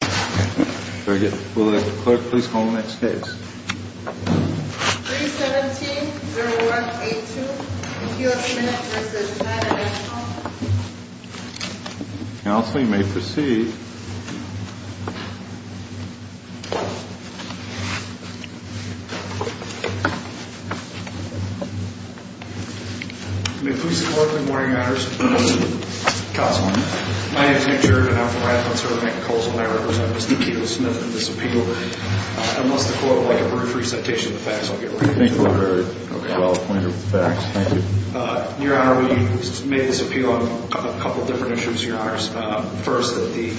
317-0182, if you have a minute to assist, I'd like to call the next call. Counsel, you may proceed. Good morning, Your Honors. Counsel, my name is Nick Sheridan. I represent Mr. Keele Smith in this appeal. Unless the court would like a brief recitation of the facts, I'll get right to it. Your Honor, we made this appeal on a couple different issues, Your Honors. First, that the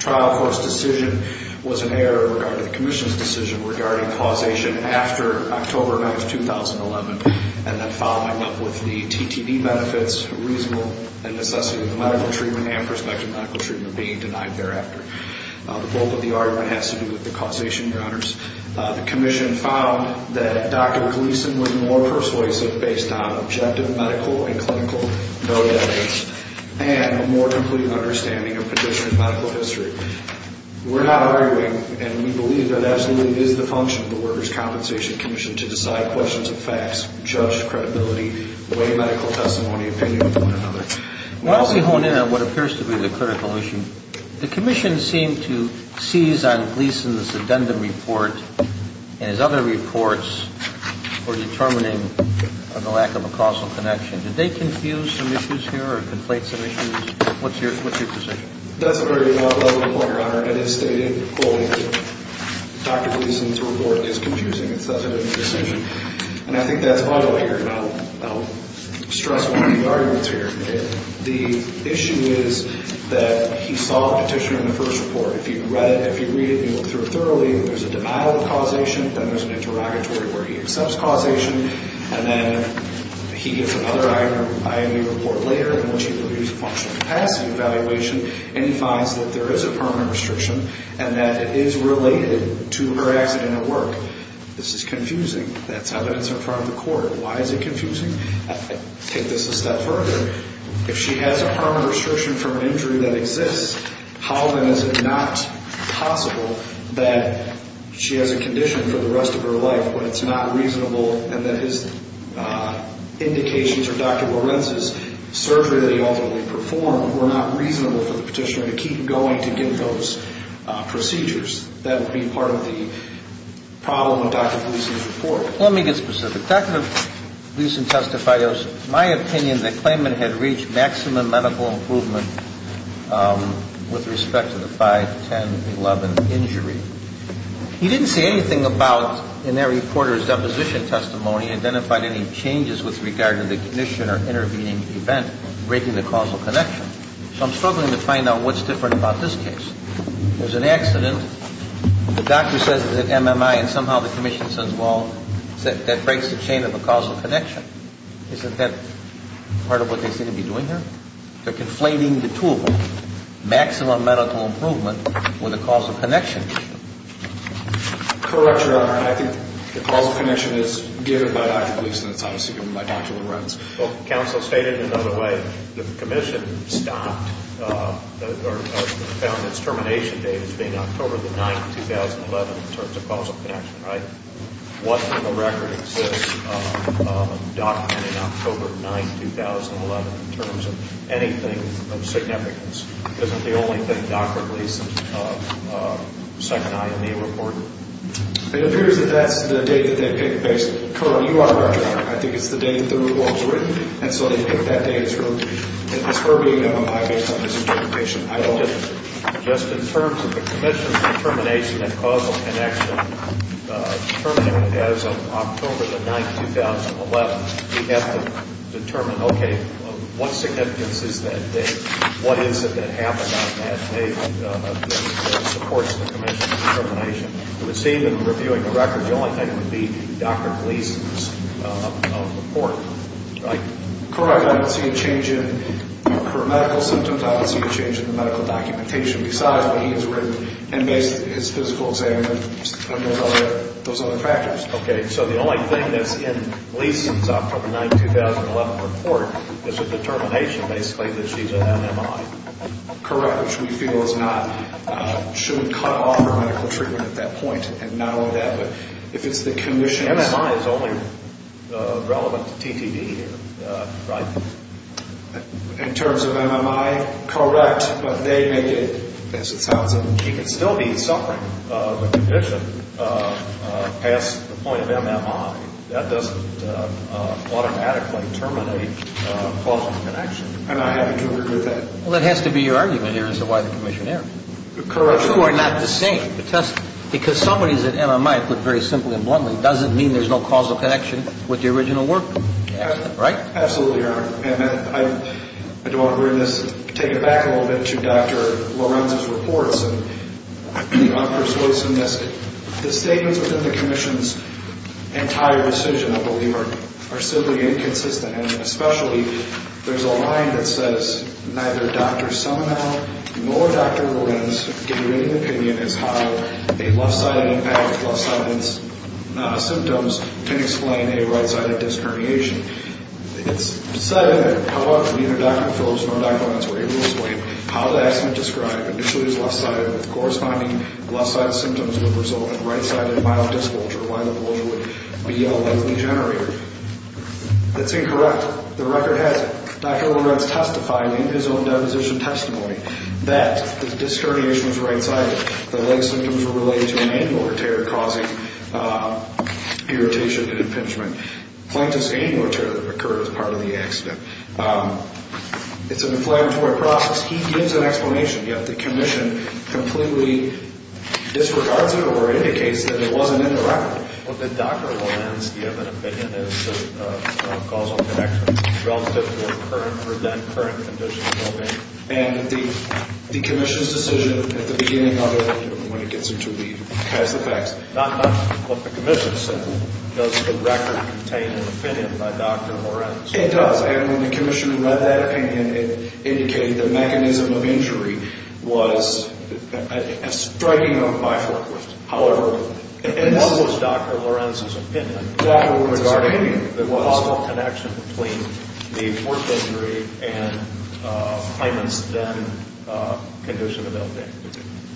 trial court's decision was an error regarding the Commission's decision regarding causation after October 9, 2011, and then following up with the TTD benefits, reasonable, and necessity of the medical treatment and prospective medical treatment being denied thereafter. The bulk of the argument has to do with the causation, Your Honors. The Commission found that Dr. Gleason was more persuasive based on objective medical and clinical evidence and a more complete understanding of traditional medical history. We're not arguing, and we believe that absolutely is the function of the Workers' Compensation Commission to decide questions of facts, judge credibility, weigh medical testimony opinion with one another. While we hone in on what appears to be the critical issue, the Commission seemed to seize on Gleason's addendum report and his other reports for determining the lack of a causal connection. Did they confuse some issues here or conflate some issues? What's your position? That's a very valid point, Your Honor. It is stated fully that Dr. Gleason's report is confusing. It doesn't make a decision. And I think that's vital here, and I'll stress one of the arguments here. The issue is that he saw the petition in the first report. If you read it, if you read it and you look through it thoroughly, there's a denial of causation, then there's an interrogatory where he accepts causation, and then he gives another IME report later in which he reviews a functional capacity evaluation, and he finds that there is a permanent restriction and that it is related to her accident at work. This is confusing. That's evidence in front of the court. Why is it confusing? Take this a step further. If she has a permanent restriction from an injury that exists, how then is it not possible that she has a condition for the rest of her life, but it's not reasonable and that his indications or Dr. Lorenz's surgery that he ultimately performed were not reasonable for the petitioner to keep going to get those procedures? That would be part of the problem with Dr. Gleason's report. Let me get specific. With respect to Dr. Gleason's testifios, my opinion, the claimant had reached maximum medical improvement with respect to the 5, 10, 11 injury. He didn't say anything about, in their reporter's deposition testimony, identified any changes with regard to the condition or intervening event, breaking the causal connection. So I'm struggling to find out what's different about this case. There's an accident. The doctor says it's an MMI and somehow the commission says, well, that breaks the chain of a causal connection. Isn't that part of what they seem to be doing here? They're conflating the two of them, maximum medical improvement with a causal connection. Correct, Your Honor. I think the causal connection is given by Dr. Gleason. It's obviously given by Dr. Lorenz. Well, counsel stated it another way. The commission stopped or found its termination date as being October the 9th, 2011, in terms of causal connection, right? What in the record exists documenting October 9th, 2011, in terms of anything of significance? Isn't the only thing Dr. Gleason's second IMEA reported? It appears that that's the date that they picked based on the current UR record. Just in terms of the commission's determination and causal connection, determining it as of October the 9th, 2011, we have to determine, okay, what significance is that date? What is it that happened on that date that supports the commission's determination? It would seem in reviewing the record, the only thing would be Dr. Gleason's report, right? Correct. I don't see a change in her medical symptoms. I don't see a change in the medical documentation besides what he has written and based on his physical exam and those other factors. Okay. So the only thing that's in Gleason's October 9th, 2011 report is her determination, basically, that she's an MMI. Correct, which we feel is not – should cut off her medical treatment at that point, and not only that, but if it's the commission's – In terms of MMI, correct, but they make it, as it sounds, that she could still be suffering the condition past the point of MMI. That doesn't automatically terminate causal connection. I'm not happy to agree with that. Well, that has to be your argument here as to why the commission erred. Correct. The two are not the same. Because somebody's an MMI, put very simply and bluntly, doesn't mean there's no causal connection with the original work, right? Absolutely, Your Honor. And I don't want to bring this – take it back a little bit to Dr. Lorenz's reports. And I'm persuasive in this. The statements within the commission's entire decision, I believe, are simply inconsistent. And especially, there's a line that says, neither Dr. Semmel nor Dr. Lorenz can give you any opinion as to how a left-sided impact, left-sided symptoms, can explain a right-sided disc herniation. It's said in there, however, neither Dr. Phillips nor Dr. Lentz were able to explain how the estimate described initially as left-sided with corresponding left-sided symptoms would result in right-sided myelodysculpture, myelopulsa would be a leg degenerator. That's incorrect. The record has it, Dr. Lorenz testified in his own deposition testimony, that the disc herniation was right-sided. The leg symptoms were related to an annular tear causing irritation and impingement. Plankton's annular tear occurred as part of the accident. It's an inflammatory process. He gives an explanation, yet the commission completely disregards it or indicates that it wasn't in the record. But Dr. Lorenz, you have an opinion as to causal connections relative to a current or then-current condition. And the commission's decision at the beginning of it, when it gets into the causal facts. Not much of what the commission said. Does the record contain an opinion by Dr. Lorenz? It does. And when the commission read that opinion, it indicated the mechanism of injury was a striking of bifurcum. However, it was Dr. Lorenz's opinion. Dr. Lorenz's opinion? The causal connection between the fourth injury and Hyman's then-condition.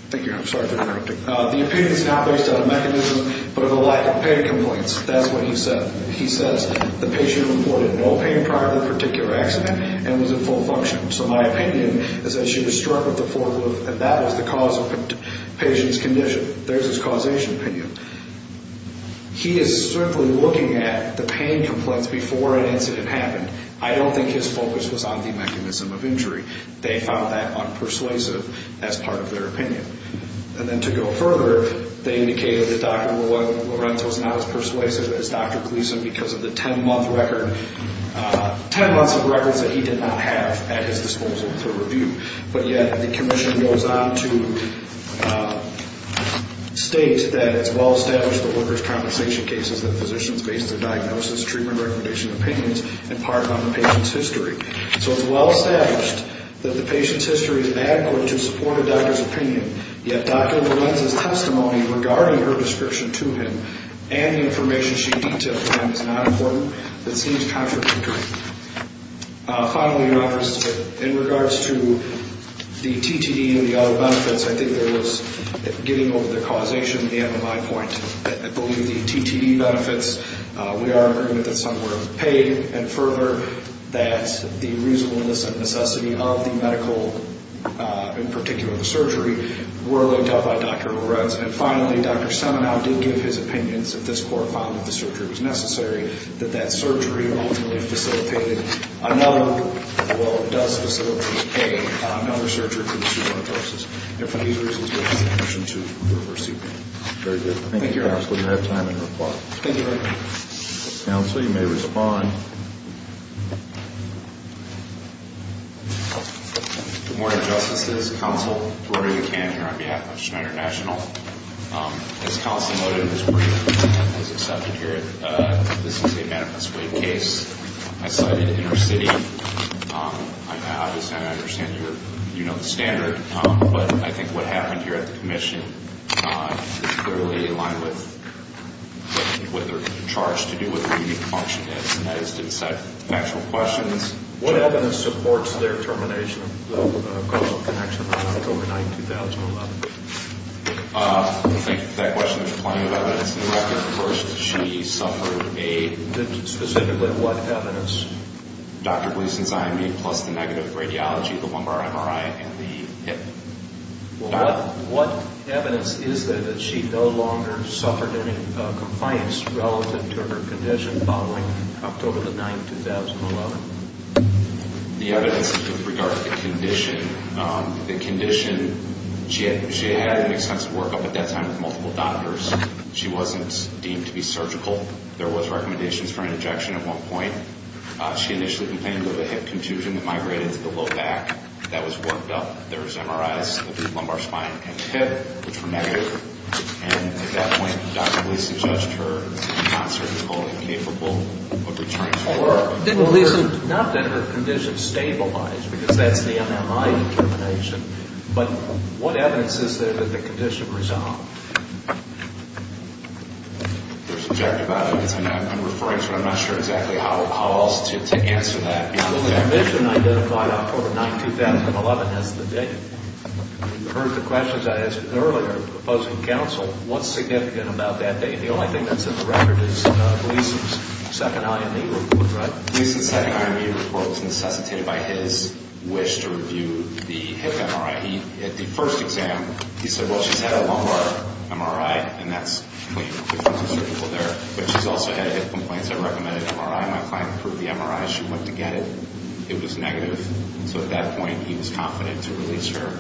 Thank you. I'm sorry for interrupting. The opinion's not based on a mechanism, but on the lack of pain complaints. That's what he said. He says the patient reported no pain prior to the particular accident and was in full function. So my opinion is that she was struck with the forklift, and that was the cause of the patient's condition. There's his causation opinion. He is certainly looking at the pain complaints before an incident happened. I don't think his focus was on the mechanism of injury. They found that unpersuasive as part of their opinion. And then to go further, they indicated that Dr. Lorenz was not as persuasive as Dr. Gleason because of the 10-month record, 10 months of records that he did not have at his disposal for review. But yet the commission goes on to state that it's well-established the workers' compensation cases that physicians base their diagnosis, treatment recommendations, and opinions in part on the patient's history. So it's well-established that the patient's history is adequate to support a doctor's opinion, yet Dr. Lorenz's testimony regarding her description to him and the information she detailed to him is not important. It seems contradictory. Finally, Your Honors, in regards to the TTD and the other benefits, I think there was, getting over the causation, the MMI point, I believe the TTD benefits, we are agreed that some were paid, and further, that the reasonableness and necessity of the medical, in particular the surgery, were laid out by Dr. Lorenz. And finally, Dr. Semenow did give his opinions, if this court found that the surgery was necessary, that that surgery ultimately facilitated another, well, it does facilitate another surgery to pursue another process. And for these reasons, we ask the commission to reverse the opinion. Very good. Thank you, Your Honor. Thank you, Counselor. Do you have time in your report? Thank you, Your Honor. Counsel, you may respond. Good morning, Justices. Counsel Tory McCann here on behalf of Schneider National. As Counsel noted in his brief, as accepted here, this is a manifest way case. I cited inner city. I understand you're, you know the standard, but I think what happened here at the commission is clearly in line with what they're charged to do, what their unique function is, and that is to decide factual questions. What evidence supports their termination of the causal connection on October 9, 2011? Thank you for that question. There's plenty of evidence in the record. First, she suffered a Specifically what evidence? Dr. Gleason's IME plus the negative radiology, the lumbar MRI, and the hip. What evidence is there that she no longer suffered any compliance relative to her condition following October 9, 2011? The evidence is with regard to the condition. The condition, she had an extensive workup at that time with multiple doctors. She wasn't deemed to be surgical. There was recommendations for an injection at one point. She initially complained of a hip contusion that migrated to the low back. That was worked up. There was MRIs of the lumbar spine and hip, which were negative. And at that point, Dr. Gleason judged her not surgical and incapable of returning to work. Not that her condition stabilized, because that's the MMI termination, but what evidence is there that the condition resolved? There's objective evidence. I'm referring to it. I'm not sure exactly how else to answer that. The condition identified October 9, 2011. That's the date. You heard the questions I asked earlier, proposing counsel. What's significant about that date? The only thing that's in the record is Gleason's second IME report, right? Gleason's second IME report was necessitated by his wish to review the hip MRI. At the first exam, he said, well, she's had a lumbar MRI, and that's clean. But she's also had hip complaints. I recommended an MRI. My client approved the MRI. She went to get it. It was negative. So at that point, he was confident to release her.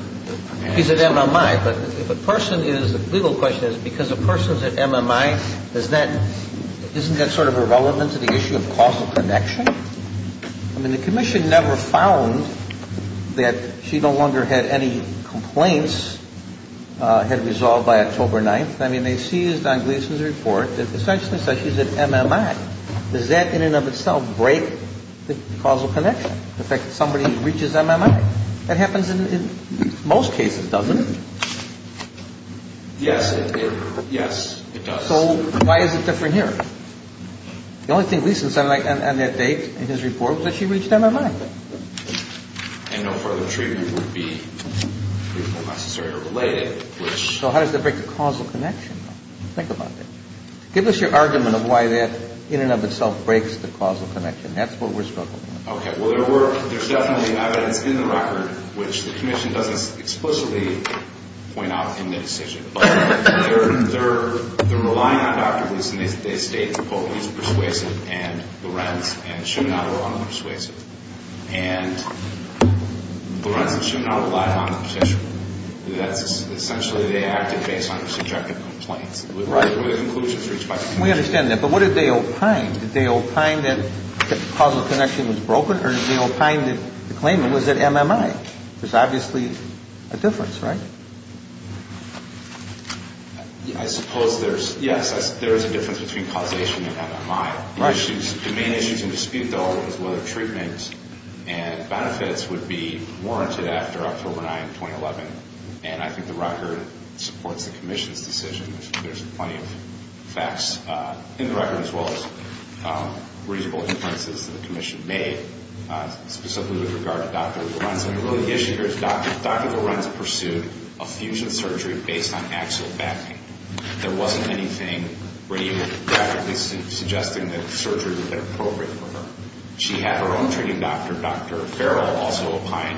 He's at MMI. But if a person is, the legal question is, because a person's at MMI, isn't that sort of irrelevant to the issue of causal connection? I mean, the commission never found that she no longer had any complaints, had resolved by October 9th. I mean, they seized on Gleason's report that essentially says she's at MMI. Does that in and of itself break the causal connection? The fact that somebody reaches MMI? That happens in most cases, doesn't it? Yes, it does. So why is it different here? The only thing Gleason said on that date in his report was that she reached MMI. And no further treatment would be necessary or related. So how does that break the causal connection? Think about that. Give us your argument of why that in and of itself breaks the causal connection. That's what we're struggling with. Okay. Well, there's definitely evidence in the record, which the commission doesn't explicitly point out in the decision. But they're relying on Dr. Gleason. They state Poley's persuasive and Lorenz and Shimano are unpersuasive. And Lorenz and Shimano relied on the petitioner. That's essentially they acted based on subjective complaints. Right. The conclusion is reached by the commission. We understand that. But what did they opine? Did they opine that the causal connection was broken? Or did they opine that the claimant was at MMI? There's obviously a difference, right? I suppose there's, yes, there is a difference between causation and MMI. The main issues in dispute, though, is whether treatment and benefits would be warranted after October 9, 2011. And I think the record supports the commission's decision. There's plenty of facts in the record, as well as reasonable inferences that the commission made, specifically with regard to Dr. Lorenz. And, really, the issue here is Dr. Lorenz pursued a fusion surgery based on axial backing. There wasn't anything radically suggesting that surgery would have been appropriate for her. She had her own treating doctor, Dr. Farrell, also opine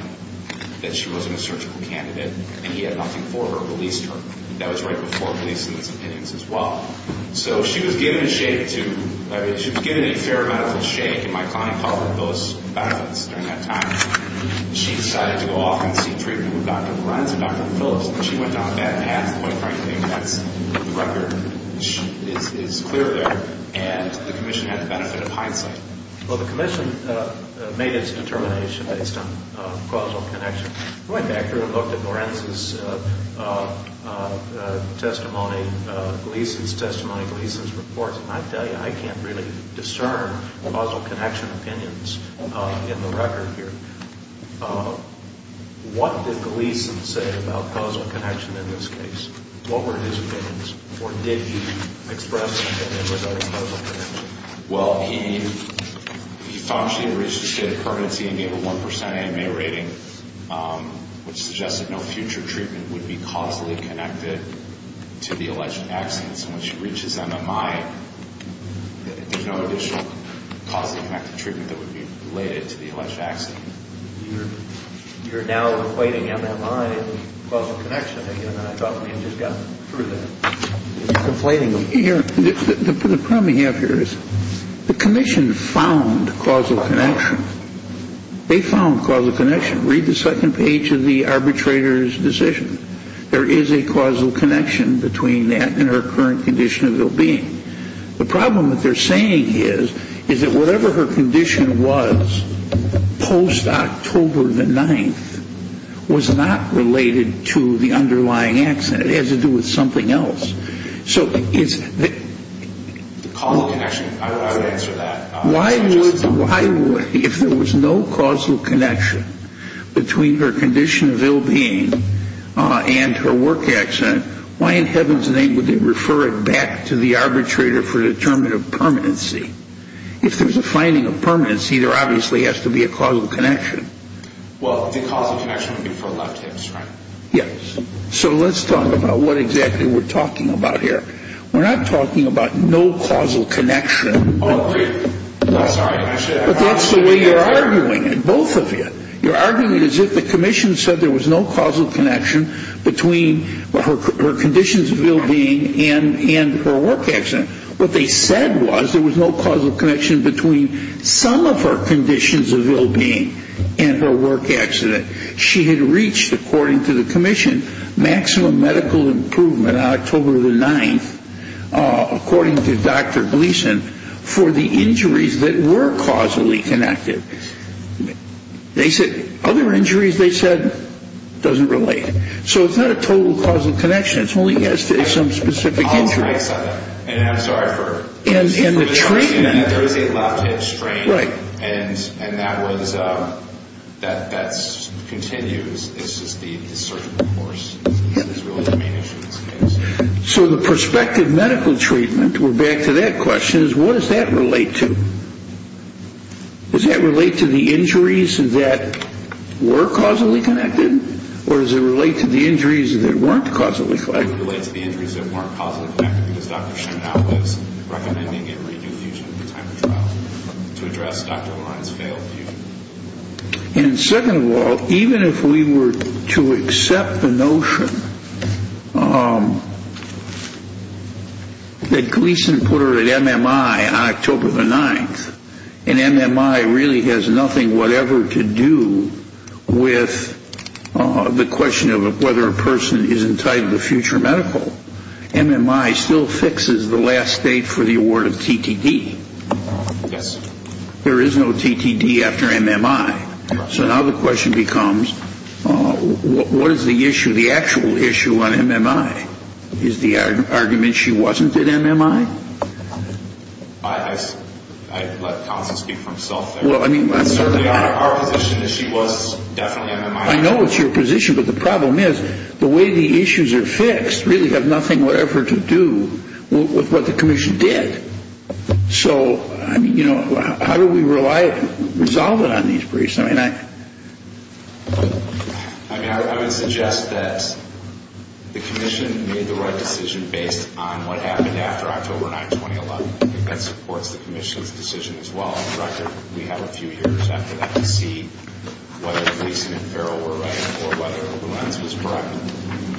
that she wasn't a surgical candidate. And he had nothing for her, released her. That was right before releasing his opinions, as well. So she was given a shake to, I mean, she was given a fair amount of a shake, and my client offered those benefits during that time. She decided to go off and seek treatment with Dr. Lorenz and Dr. Phillips, and she went down that path. Quite frankly, I think that's the record is clear there, and the commission had the benefit of hindsight. Well, the commission made its determination based on causal connection. I went back here and looked at Lorenz's testimony, Gleason's testimony, Gleason's reports, and I tell you, I can't really discern causal connection opinions in the record here. What did Gleason say about causal connection in this case? What were his opinions, or did he express an opinion regarding causal connection? Well, he found she had reached a state of permanency and gave a 1% AMA rating, which suggested no future treatment would be causally connected to the alleged accident. So when she reaches MMI, there's no additional causally connected treatment that would be related to the alleged accident. You're now conflating MMI and causal connection again, and I thought we had just gotten through that. You're conflating them. The problem we have here is the commission found causal connection. They found causal connection. Read the second page of the arbitrator's decision. There is a causal connection between that and her current condition of well-being. The problem that they're saying is is that whatever her condition was post-October the 9th was not related to the underlying accident. It has to do with something else. The causal connection, I would answer that. If there was no causal connection between her condition of well-being and her work accident, why in heaven's name would they refer it back to the arbitrator for the term of permanency? If there's a finding of permanency, there obviously has to be a causal connection. Well, the causal connection would be for left hips, right? Yes. So let's talk about what exactly we're talking about here. We're not talking about no causal connection. But that's the way you're arguing it, both of you. You're arguing it as if the commission said there was no causal connection between her conditions of well-being and her work accident. What they said was there was no causal connection between some of her conditions of well-being and her work accident. She had reached, according to the commission, maximum medical improvement on October the 9th, according to Dr. Gleason, for the injuries that were causally connected. They said other injuries, they said, doesn't relate. So it's not a total causal connection. It only has to do with some specific injury. I'll try to set it. And I'm sorry for... And the treatment. There is a left hip strain, and that continues. It's just the surgical force is really the main issue in this case. So the prospective medical treatment, we're back to that question, is what does that relate to? Does that relate to the injuries that were causally connected, or does it relate to the injuries that weren't causally connected? It would relate to the injuries that weren't causally connected, because Dr. Shen now is recommending a re-diffusion at the time of trial to address Dr. O'Meara's failed view. And second of all, even if we were to accept the notion that Gleason put her at MMI on October the 9th, and MMI really has nothing whatever to do with the question of whether a person is entitled to future medical, MMI still fixes the last date for the award of TTD. Yes. There is no TTD after MMI. So now the question becomes, what is the issue, the actual issue on MMI? Is the argument she wasn't at MMI? I let Thompson speak for himself there. Well, I mean... Certainly our position is she was definitely at MMI. I know it's your position, but the problem is the way the issues are fixed really have nothing whatever to do with what the commission did. So, I mean, you know, how do we resolve it on these briefs? I mean, I would suggest that the commission made the right decision based on what happened after October 9, 2011. I think that supports the commission's decision as well. We have a few years after that to see whether Gleason and Farrell were right or whether Luenz was correct.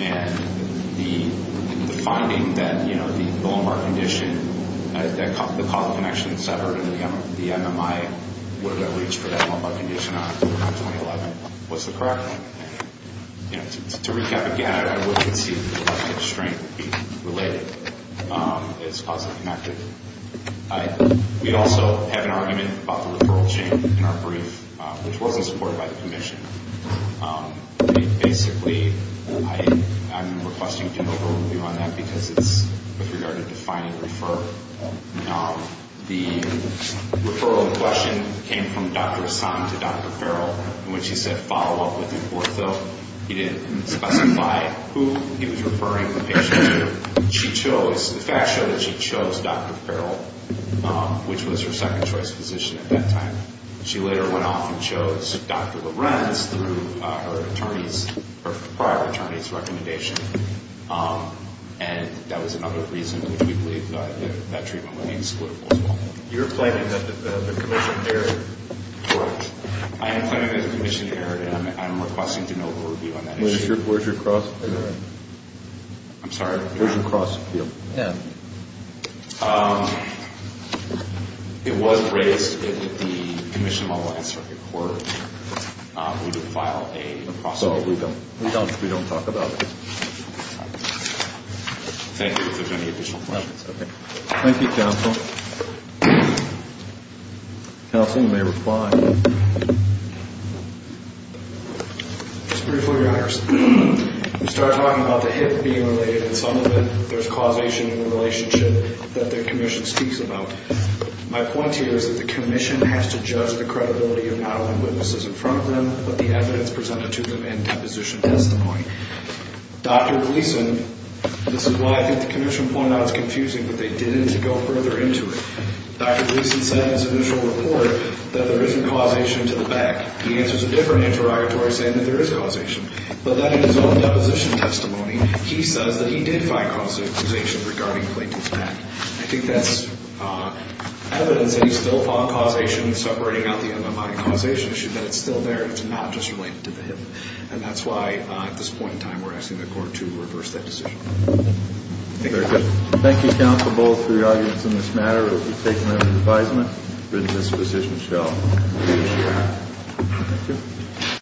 And the finding that, you know, the Bill and Mark condition, the causal connection that severed the MMI, what did I reach for that Bill and Mark condition on October 9, 2011? What's the correct one? You know, to recap again, I would concede that the collective strength related is causally connected. We also have an argument about the referral chain in our brief, which wasn't supported by the commission. I mean, basically, I'm requesting an overview on that because it's with regard to defining refer. The referral question came from Dr. Assange to Dr. Farrell in which he said follow-up with the ortho. He didn't specify who he was referring the patient to. The fact showed that she chose Dr. Farrell, which was her second-choice physician at that time. She later went off and chose Dr. Lorenz through her prior attorney's recommendation. And that was another reason which we believe that treatment would be exploitable as well. You're claiming that the commission erred. Correct. I am claiming that the commission erred, and I'm requesting an overview on that issue. Where's your cross? I'm sorry? Where's your cross appeal? Yeah. It was raised in the commission of all lines circuit court. We didn't file a cross appeal. So we don't talk about it. Thank you. If there's any additional questions. No. Thank you, counsel. Counsel, you may reply. Just briefly, your honors. We started talking about the hip being related in some of it. There's causation in the relationship that the commission speaks about. My point here is that the commission has to judge the credibility of not only witnesses in front of them, but the evidence presented to them and deposition testimony. Dr. Gleason, this is why I think the commission pointed out it's confusing, but they didn't go further into it. Dr. Gleason said in his initial report that there isn't causation to the back. He answers a different interrogatory saying that there is causation. But then in his own deposition testimony, he says that he did find causation regarding Clayton's back. I think that's evidence that he still found causation in separating out the MMI causation issue, but it's still there. It's not just related to the hip. And that's why at this point in time we're asking the court to reverse that decision. Thank you. Thank you, counsel, both for your arguments in this matter. We'll be taking that as an advisement. The deposition shall be adjourned. Thank you.